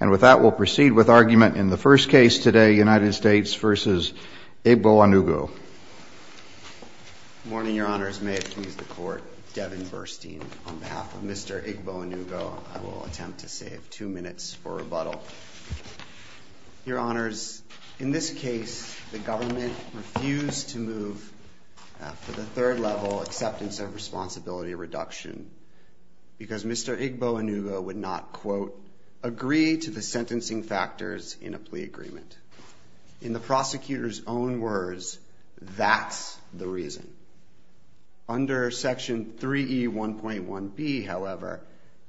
and with that we'll proceed with argument in the first case today United States v. Igboanugo. Good morning your honors may it please the court Devin Burstein on behalf of Mr. Igboanugo I will attempt to save two minutes for rebuttal. Your honors in this case the government refused to move for the third level acceptance of responsibility reduction because Mr. Igboanugo would not quote agree to the sentencing factors in a plea agreement. In the prosecutor's own words that's the reason. Under section 3e 1.1 B however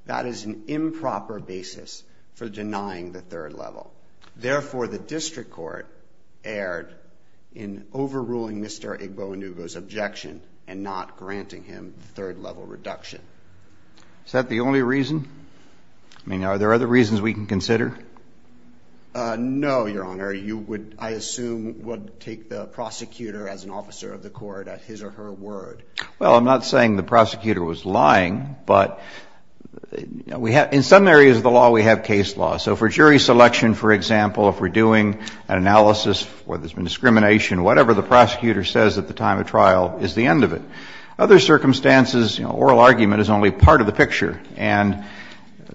that is an improper basis for denying the third level. Therefore the district court erred in overruling Mr. Igboanugo's objection and not granting him third level reduction. Is that the only reason? I mean are there other reasons we can consider? No your honor you would I assume would take the prosecutor as an officer of the court at his or her word. Well I'm not saying the prosecutor was lying but we have in some areas of the law we have case law so for jury selection for example if we're doing an analysis where there's been discrimination whatever the prosecutor says at the time of trial is the end of it. Other circumstances you know the oral argument is only part of the picture and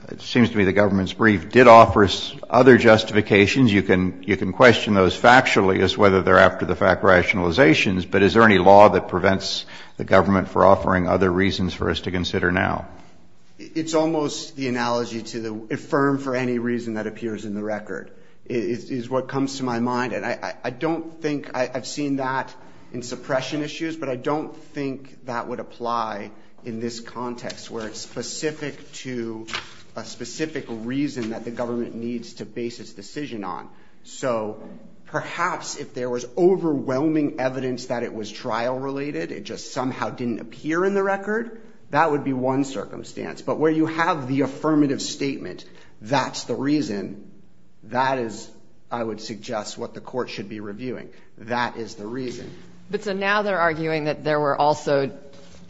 it seems to me the government's brief did offer us other justifications you can you can question those factually as whether they're after the fact rationalizations but is there any law that prevents the government for offering other reasons for us to consider now? It's almost the analogy to the affirm for any reason that appears in the record is what comes to my mind and I don't think I've seen that in suppression issues but I don't think that would apply in this context where it's specific to a specific reason that the government needs to base its decision on so perhaps if there was overwhelming evidence that it was trial related it just somehow didn't appear in the record that would be one circumstance but where you have the affirmative statement that's the reason that is I would suggest what the court should be reviewing that is the reason. But so now they're arguing that there were also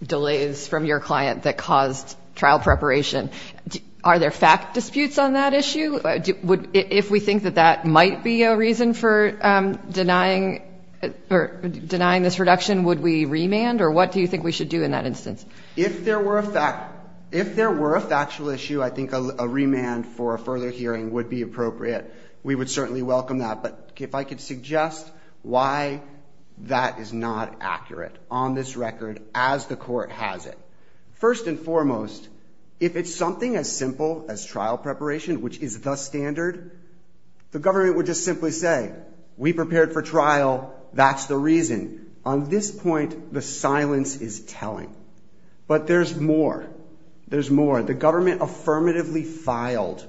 delays from your client that caused trial preparation. Are there fact disputes on that issue? If we think that that might be a reason for denying or denying this reduction would we remand or what do you think we should do in that instance? If there were a fact if there were a factual issue I think a remand for a further hearing would be appropriate. We would certainly welcome that but if I could suggest why that is not accurate on this record as the court has it. First and foremost if it's something as simple as trial preparation which is the standard the government would just simply say we prepared for trial that's the reason. On this point the silence is telling but there's more there's more the government affirmatively filed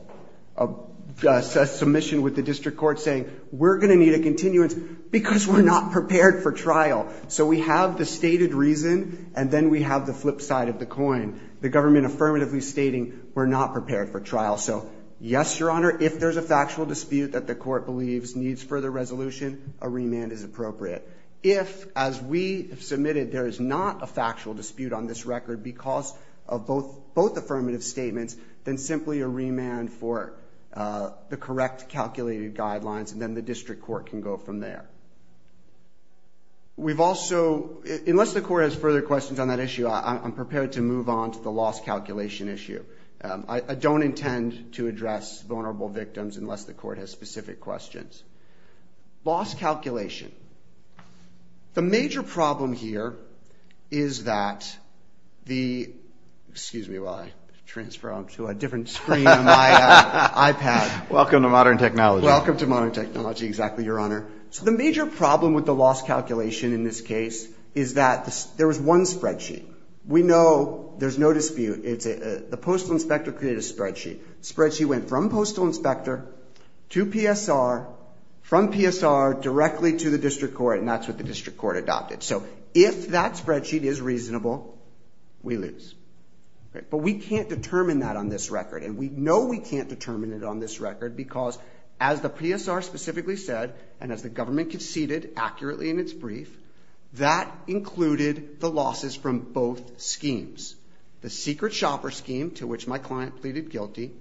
a submission with the district court saying we're gonna need a continuance because we're not prepared for trial. So we have the stated reason and then we have the flip side of the coin the government affirmatively stating we're not prepared for trial. So yes your honor if there's a factual dispute that the court believes needs further resolution a remand is appropriate. If as we submitted there is not a factual dispute on this record because of both both affirmative statements then simply a guidelines and then the district court can go from there. We've also unless the court has further questions on that issue I'm prepared to move on to the loss calculation issue. I don't intend to address vulnerable victims unless the court has specific questions. Loss calculation the major problem here is that the excuse me while I transfer on to a different screen my iPad. Welcome to modern technology. Welcome to modern technology exactly your honor. So the major problem with the loss calculation in this case is that there was one spreadsheet. We know there's no dispute it's a the postal inspector created a spreadsheet. Spreadsheet went from postal inspector to PSR from PSR directly to the district court and that's what the district court adopted. So if that spreadsheet is reasonable we lose. But we can't determine that on this record and we know we can't determine it on this record because as the PSR specifically said and as the government conceded accurately in its brief that included the losses from both schemes. The secret shopper scheme to which my client pleaded guilty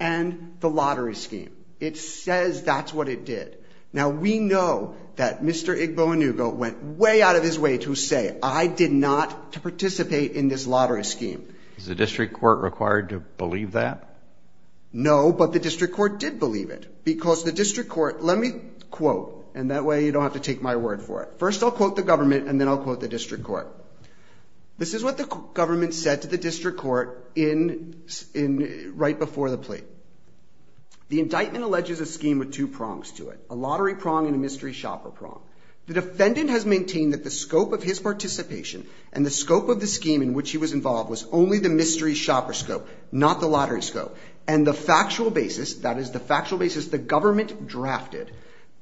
and the lottery scheme. It says that's what it did. Now we know that Mr. Igbo Inugo went way out of his way to say I did not to participate in his lottery scheme. Is the district court required to believe that? No but the district court did believe it because the district court let me quote and that way you don't have to take my word for it. First I'll quote the government and then I'll quote the district court. This is what the government said to the district court in in right before the plea. The indictment alleges a scheme with two prongs to it. A lottery prong and a mystery shopper prong. The defendant has maintained that the scope of his participation and the involved was only the mystery shopper scope not the lottery scope and the factual basis that is the factual basis the government drafted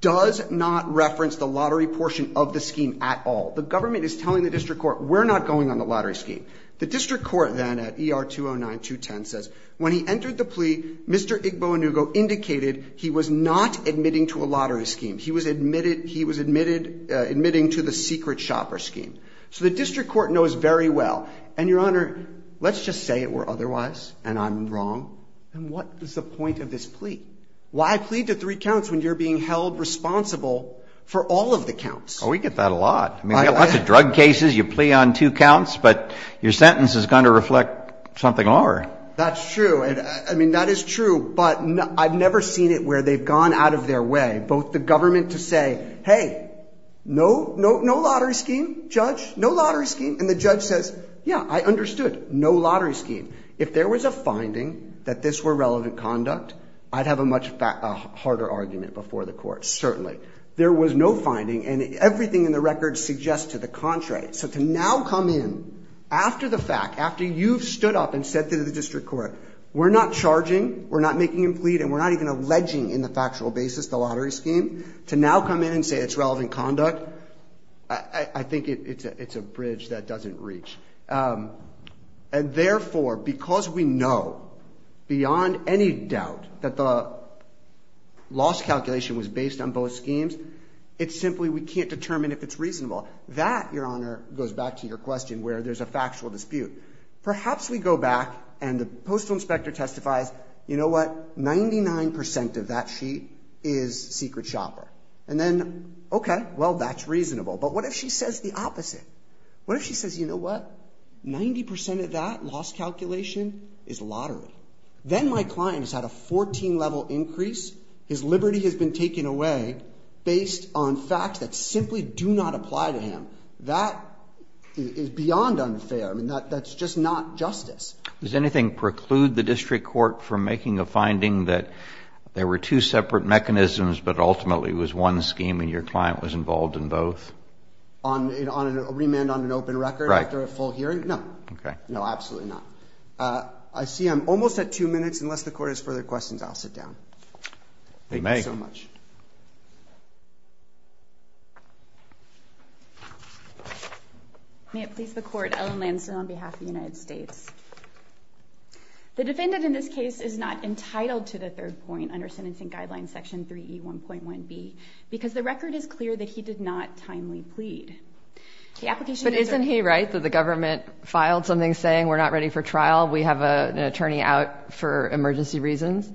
does not reference the lottery portion of the scheme at all. The government is telling the district court we're not going on the lottery scheme. The district court then at ER 209 210 says when he entered the plea Mr. Igbo Inugo indicated he was not admitting to a lottery scheme. He was admitted he was admitted admitting to the secret shopper scheme. So the district court knows very well and your honor let's just say it were otherwise and I'm wrong and what is the point of this plea? Why plead to three counts when you're being held responsible for all of the counts? Oh we get that a lot. I mean lots of drug cases you plea on two counts but your sentence is going to reflect something lower. That's true and I mean that is true but I've never seen it where they've gone out of their way both the lottery scheme judge no lottery scheme and the judge says yeah I understood no lottery scheme. If there was a finding that this were relevant conduct I'd have a much harder argument before the court certainly. There was no finding and everything in the record suggests to the contrary. So to now come in after the fact after you've stood up and said to the district court we're not charging we're not making him plead and we're not even alleging in the factual basis the I think it's a bridge that doesn't reach and therefore because we know beyond any doubt that the loss calculation was based on both schemes it's simply we can't determine if it's reasonable. That your honor goes back to your question where there's a factual dispute. Perhaps we go back and the postal inspector testifies you know what 99% of that sheet is secret shopper and then okay well that's reasonable but what if she says the opposite. What if she says you know what 90% of that loss calculation is lottery. Then my client has had a 14 level increase his liberty has been taken away based on facts that simply do not apply to him. That is beyond unfair and that that's just not justice. Does anything preclude the district court from making a finding that there were two separate mechanisms but ultimately was one scheme and your client was involved in both? On a remand on an open record after a full hearing? No. Okay. No absolutely not. I see I'm almost at two minutes unless the court has further questions I'll sit down. They may. Thank you so much. May it please the court Ellen Lansdon on behalf of the United States. The defendant in this case is not entitled to the third point under sentencing guideline section 3e 1.1b because the record is clear that he did not timely plead. The application. But isn't he right that the government filed something saying we're not ready for trial we have a attorney out for emergency reasons?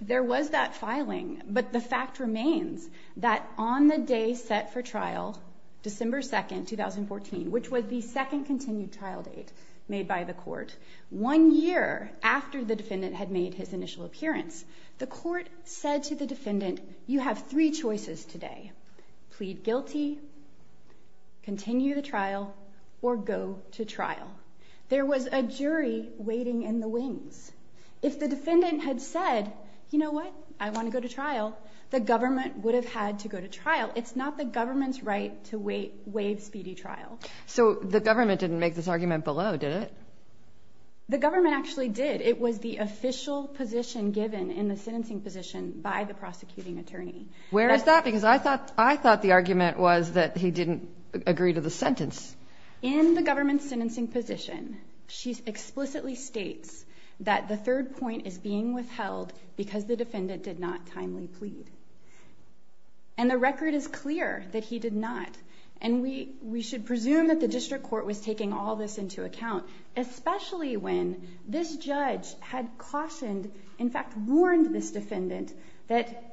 There was that filing but the fact remains that on the day set for trial December 2nd 2014 which was the second continued trial date made by the court. One year after the defendant you have three choices today. Plead guilty, continue the trial, or go to trial. There was a jury waiting in the wings. If the defendant had said you know what I want to go to trial the government would have had to go to trial. It's not the government's right to wait waive speedy trial. So the government didn't make this argument below did it? The government actually did. It was the prosecuting attorney. Where is that? Because I thought I thought the argument was that he didn't agree to the sentence. In the government's sentencing position she explicitly states that the third point is being withheld because the defendant did not timely plead. And the record is clear that he did not. And we we should presume that the district court was taking all this into account especially when this judge had cautioned in fact warned this defendant that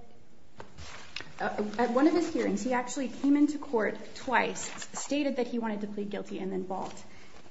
at one of his hearings he actually came into court twice stated that he wanted to plead guilty and then balked.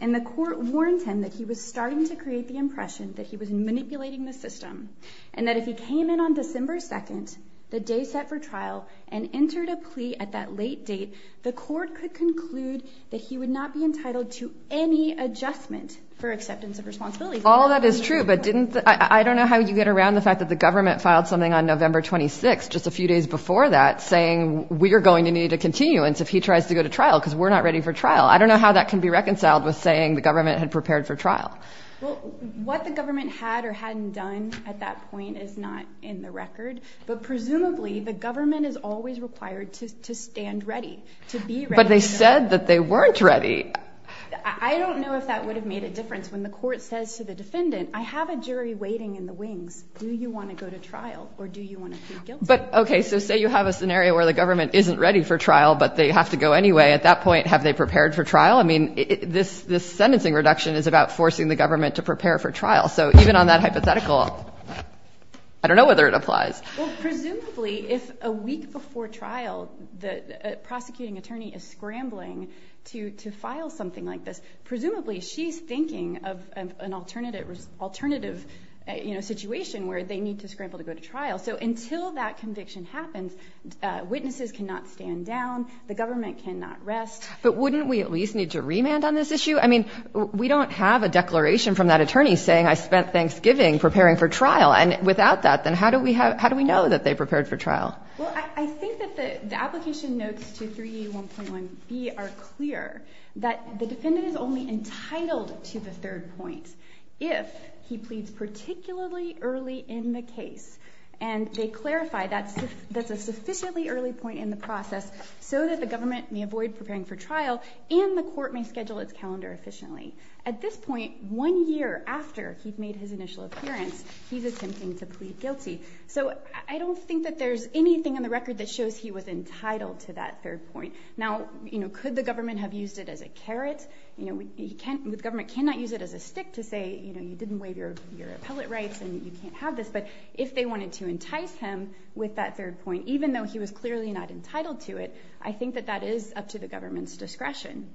And the court warned him that he was starting to create the impression that he was manipulating the system and that if he came in on December 2nd the day set for trial and entered a plea at that late date the court could conclude that he would not be entitled to any adjustment for acceptance of responsibility. All that is true but didn't I don't know how you get around the fact that the government filed something on November 26 just a few days before that saying we are going to need a continuance if he tries to go to trial because we're not ready for trial. I don't know how that can be reconciled with saying the government had prepared for trial. What the government had or hadn't done at that point is not in the record but presumably the government is always required to stand ready. But they said that they weren't ready. I don't know if that would have made a difference when the court says to the defendant I have a jury waiting in the wings do you want to go to trial or do you want to plead guilty. But okay so say you have a scenario where the government isn't ready for trial but they have to go anyway at that point have they prepared for trial I mean this this sentencing reduction is about forcing the government to prepare for trial so even on that hypothetical I don't know whether it applies. Well presumably if a week before trial the prosecuting attorney is scrambling to to file something like this presumably she's thinking of an alternative alternative you know situation where they need to scramble to go to trial so until that conviction happens witnesses cannot stand down the government cannot rest. But wouldn't we at least need to remand on this issue I mean we don't have a declaration from that attorney saying I spent Thanksgiving preparing for trial and without that then how do we have how do we know that they prepared for trial? Well I think that the application notes to 3E1.1B are clear that the defendant is only entitled to the third point if he pleads particularly early in the case and they clarify that that's a sufficiently early point in the process so that the government may avoid preparing for trial and the court may schedule its calendar efficiently. At this point one year after he'd made his initial appearance he's attempting to plead guilty so I don't think that there's anything in the record that shows he was entitled to that third point. Now you know could the government have used it as a carrot you know we can't the government cannot use it as a stick to say you know you didn't waive your your appellate rights and you can't have this but if they wanted to entice him with that third point even though he was clearly not entitled to it I think that that is up to the government's discretion.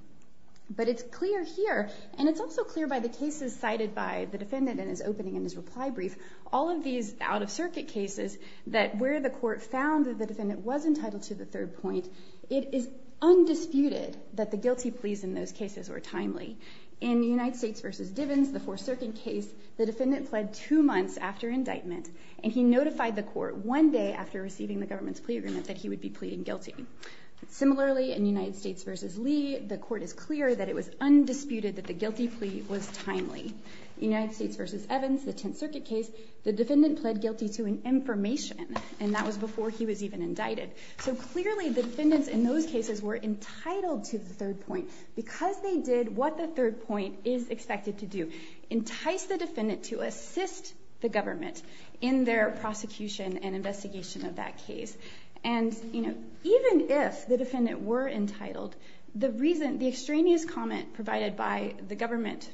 But it's clear here and it's also clear by the cases cited by the defendant in his opening in his reply brief all of these out-of-circuit cases that where the court found that the defendant was entitled to the third point it is undisputed that the guilty pleas in those cases were timely. In the United States versus Divens the Fourth Circuit case the defendant pled two months after indictment and he notified the court one day after receiving the government's plea agreement that he would be pleading guilty. Similarly in United States versus Lee the court is clear that it was undisputed that the guilty plea was the defendant pled guilty to an information and that was before he was even indicted. So clearly defendants in those cases were entitled to the third point because they did what the third point is expected to do entice the defendant to assist the government in their prosecution and investigation of that case and you know even if the defendant were entitled the reason the extraneous comment provided by the government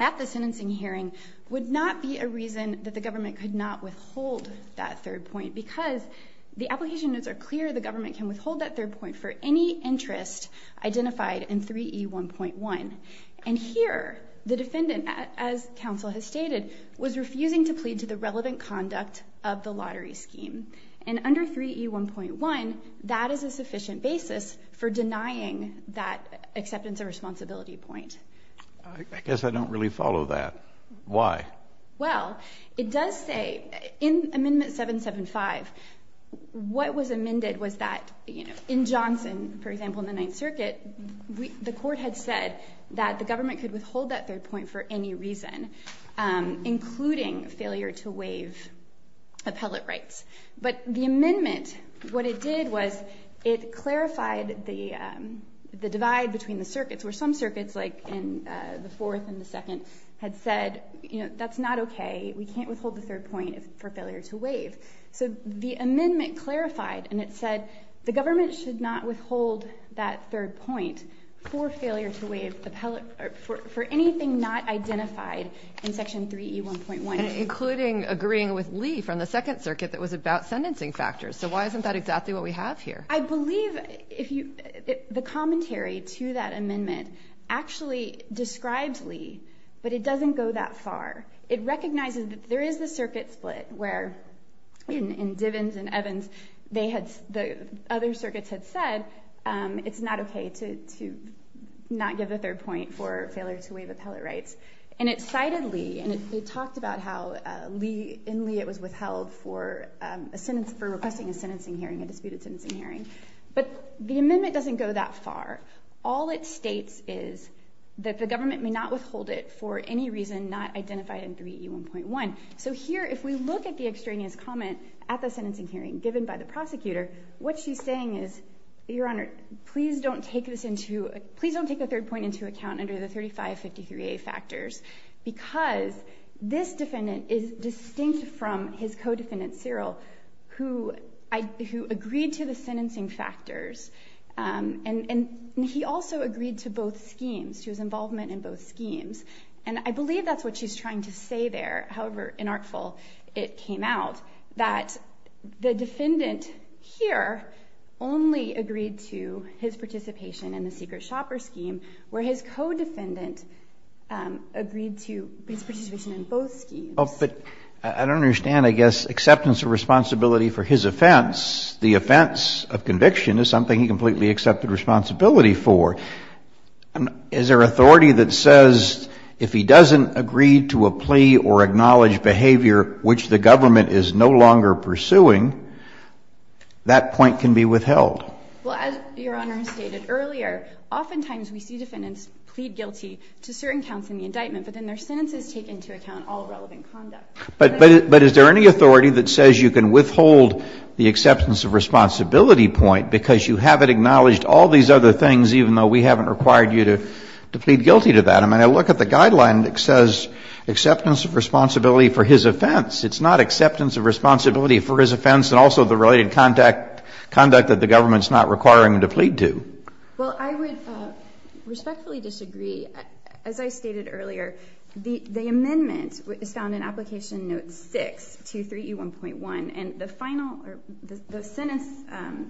at the sentencing hearing would not be a reason that the government could not withhold that third point because the application notes are clear the government can withhold that third point for any interest identified in 3e 1.1 and here the defendant as counsel has stated was refusing to plead to the relevant conduct of the lottery scheme and under 3e 1.1 that is a sufficient basis for denying that point. I guess I don't really follow that. Why? Well it does say in amendment 775 what was amended was that you know in Johnson for example in the Ninth Circuit the court had said that the government could withhold that third point for any reason including failure to waive appellate rights but the circuits were some circuits like in the fourth and the second had said you know that's not okay we can't withhold the third point for failure to waive so the amendment clarified and it said the government should not withhold that third point for failure to waive the pellet for anything not identified in section 3e 1.1 including agreeing with Lee from the Second Circuit that was about sentencing factors so why isn't that exactly what we have here? I believe if you the commentary to that amendment actually describes Lee but it doesn't go that far it recognizes that there is the circuit split where in Divens and Evans they had the other circuits had said it's not okay to not give the third point for failure to waive appellate rights and it cited Lee and it talked about how in Lee it was withheld for a sentence for requesting a sentencing hearing but the amendment doesn't go that far all it states is that the government may not withhold it for any reason not identified in 3e 1.1 so here if we look at the extraneous comment at the sentencing hearing given by the prosecutor what she's saying is your honor please don't take this into please don't take the third point into account under the 3553a factors because this defendant is distinct from his co-defendant Cyril who agreed to the sentencing factors and and he also agreed to both schemes to his involvement in both schemes and I believe that's what she's trying to say there however inartful it came out that the defendant here only agreed to his participation in the secret shopper scheme where his co-defendant agreed to his participation in both schemes but I don't understand I guess acceptance of responsibility for his offense the offense of conviction is something he completely accepted responsibility for and is there authority that says if he doesn't agree to a plea or acknowledge behavior which the government is no longer pursuing that point can be withheld well as your honor stated earlier oftentimes we see defendants plead guilty to certain counts in the indictment but then their sentences take into account all relevant conduct but but is there any authority that says you can withhold the acceptance of responsibility point because you have it acknowledged all these other things even though we haven't required you to plead guilty to that I mean I look at the guideline that says acceptance of responsibility for his offense it's not acceptance of responsibility for his offense and also the related contact conduct that the government's not requiring them to plead to well I would respectfully disagree as I stated earlier the the amendment is found in application note 6 to 3e 1.1 and the final the sentence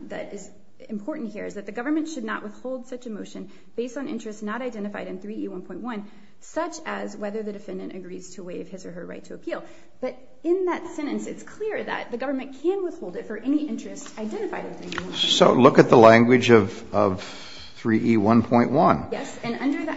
that is important here is that the government should not withhold such a motion based on interest not identified in 3e 1.1 such as whether the defendant agrees to waive his or her right to appeal but in that sentence it's clear that the government can withhold it for any interest identified so look at the language of 3e 1.1 yes and under the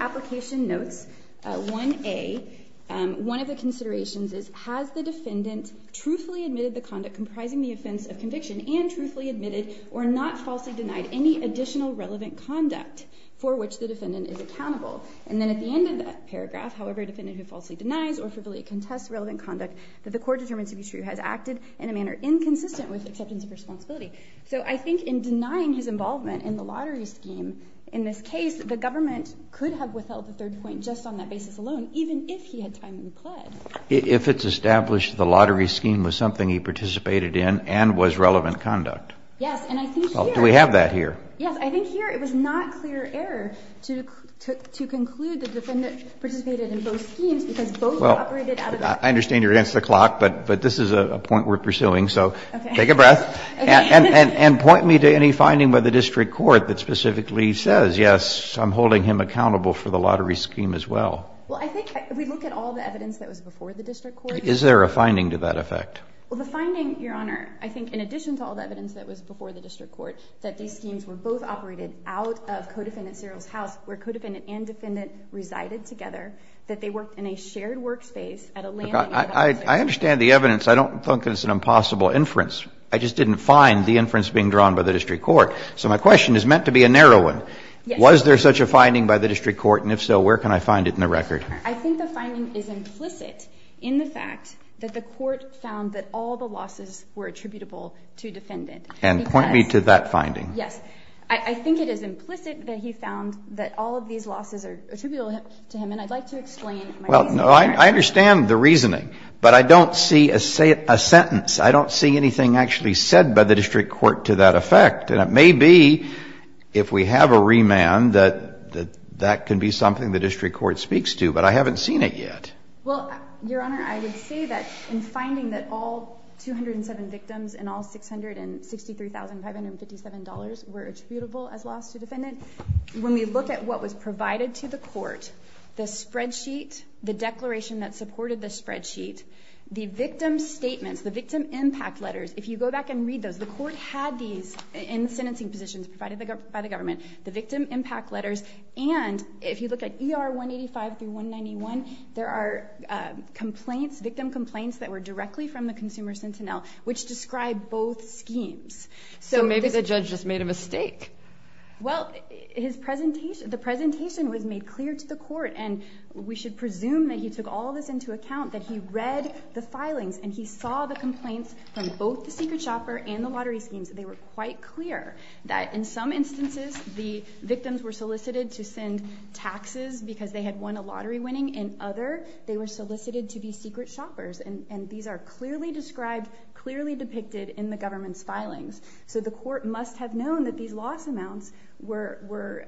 defendant truthfully admitted the conduct comprising the offense of conviction and truthfully admitted or not falsely denied any additional relevant conduct for which the defendant is accountable and then at the end of that paragraph however defendant who falsely denies or frivolously contests relevant conduct that the court determines to be true has acted in a manner inconsistent with acceptance of responsibility so I think in denying his involvement in the lottery scheme in this case the government could have withheld the third point just on that basis alone even if he had time to plead if it's established the lottery scheme was something he participated in and was relevant conduct yes and I think well do we have that here yes I think here it was not clear error to to conclude the defendant participated in both schemes because well I understand you're against the clock but but this is a point we're pursuing so take a breath and and and point me to any finding by the district court that specifically says yes I'm holding him accountable for the lottery before the district court is there a finding to that effect well the finding your honor I think in addition to all the evidence that was before the district court that these schemes were both operated out of codependent cereals house where codependent and defendant resided together that they worked in a shared workspace I understand the evidence I don't think it's an impossible inference I just didn't find the inference being drawn by the district court so my question is meant to be a narrow one was there such a finding by the district court and if so where can I find it in the record I think the finding is implicit in the fact that the court found that all the losses were attributable to defendant and point me to that finding yes I think it is implicit that he found that all of these losses are attributable to him and I'd like to explain well no I understand the reasoning but I don't see a say it a sentence I don't see anything actually said by the district court to that effect and it may be if we have a remand that that that can be something the district court speaks to but I haven't seen it yet well your honor I would say that in finding that all 207 victims and all $663,557 were attributable as loss to defendant when we look at what was provided to the court the spreadsheet the declaration that supported the spreadsheet the victim statements the victim impact letters if you go back and read those the court had these in sentencing positions provided by the government the victim impact letters and if you look at er 185 through 191 there are complaints victim complaints that were directly from the consumer sentinel which described both schemes so maybe the judge just made a mistake well his presentation the presentation was made clear to the court and we should presume that he took all this into account that he read the filings and he saw the complaints from both the secret shopper and the lottery schemes they were quite clear that in some instances the victims were solicited to send taxes because they had won a lottery winning and other they were solicited to be secret shoppers and these are clearly described clearly depicted in the government's filings so the court must have known that these loss amounts were were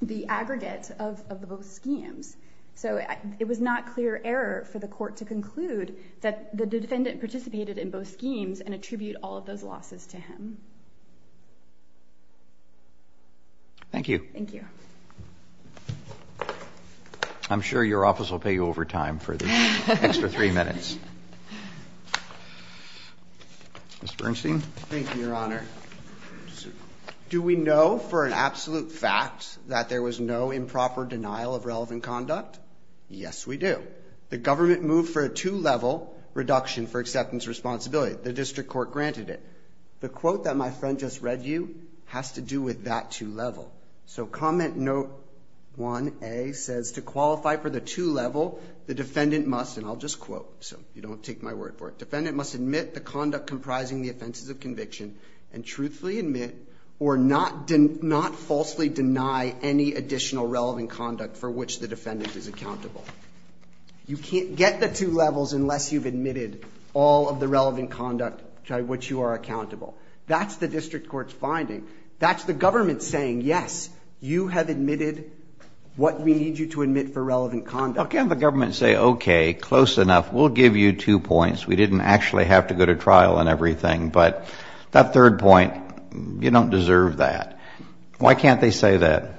the aggregate of the both schemes so it was not clear error for the court to conclude that the defendant participated in both schemes and attribute all of those losses to him thank you thank you I'm sure your office will pay you over time for the extra three minutes mr. Bernstein thank you your honor do we know for an absolute fact that there was no improper denial of relevant conduct yes we do the government moved for a two-level reduction for acceptance responsibility the district court granted it the quote that my friend just read you has to do with that two-level so comment note 1a says to qualify for the two-level the defendant must and I'll just quote so you don't take my word for it defendant must admit the conduct comprising the offenses of conviction and truthfully admit or not didn't not falsely deny any additional relevant conduct for which the levels unless you've admitted all of the relevant conduct which you are accountable that's the district courts finding that's the government saying yes you have admitted what we need you to admit for relevant conduct can the government say okay close enough we'll give you two points we didn't actually have to go to trial and everything but that third point you don't deserve that why can't they say that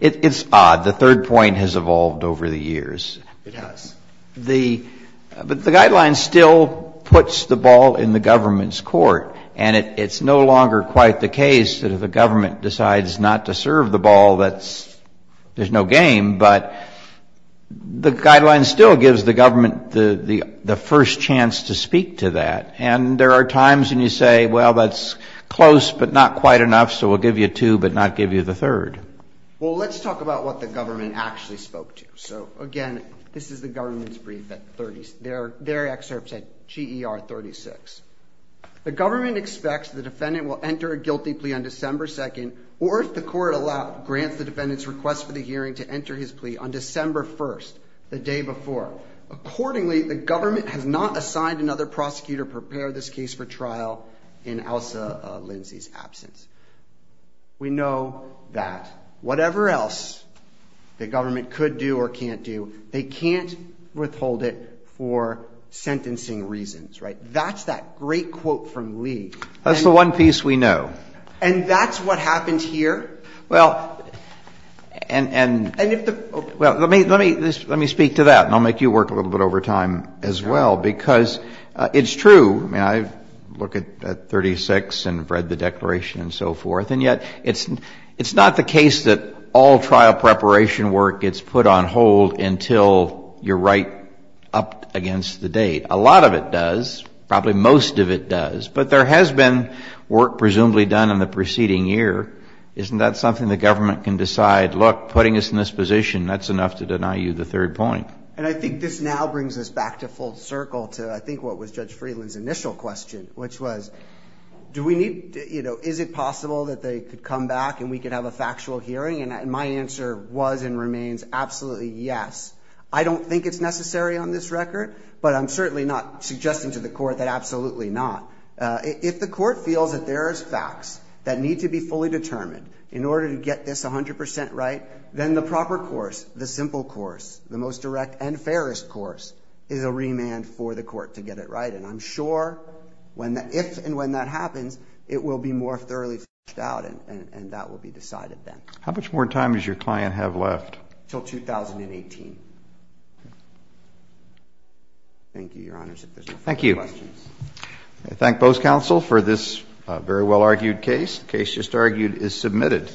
it's odd the third point has evolved over the years it has the but the guideline still puts the ball in the government's court and it's no longer quite the case that if the government decides not to serve the ball that's there's no game but the guideline still gives the government the the first chance to speak to that and there are times when you say well that's close but not quite enough so we'll give you two but not give you the third well let's talk about what the government actually spoke to so again this is the government's brief that 30s there their excerpts at GER 36 the government expects the defendant will enter a guilty plea on December 2nd or if the court allowed grants the defendants request for the hearing to enter his plea on December 1st the day before accordingly the government has not assigned another prosecutor prepare this case for trial in Elsa Lindsay's we know that whatever else the government could do or can't do they can't withhold it for sentencing reasons right that's that great quote from Lee that's the one piece we know and that's what happens here well and and and if the well let me let me just let me speak to that and I'll make you work a little bit over time as well because it's true I mean I look at 36 and read the fourth and yet it's it's not the case that all trial preparation work gets put on hold until you're right up against the date a lot of it does probably most of it does but there has been work presumably done in the preceding year isn't that something the government can decide look putting us in this position that's enough to deny you the third point and I think this now brings us back to full circle to I think what was judge Freeland's initial question which was do we need you know is it possible that they could come back and we could have a factual hearing and my answer was and remains absolutely yes I don't think it's necessary on this record but I'm certainly not suggesting to the court that absolutely not if the court feels that there is facts that need to be fully determined in order to get this 100% right then the proper course the simple course the most direct and fairest course is a remand for the court to get it right and I'm sure when that if and when that happens it will be more thoroughly out and and that will be decided then how much more time is your client have left till 2018 thank you thank you I thank both counsel for this very well argued case case just argued is submitted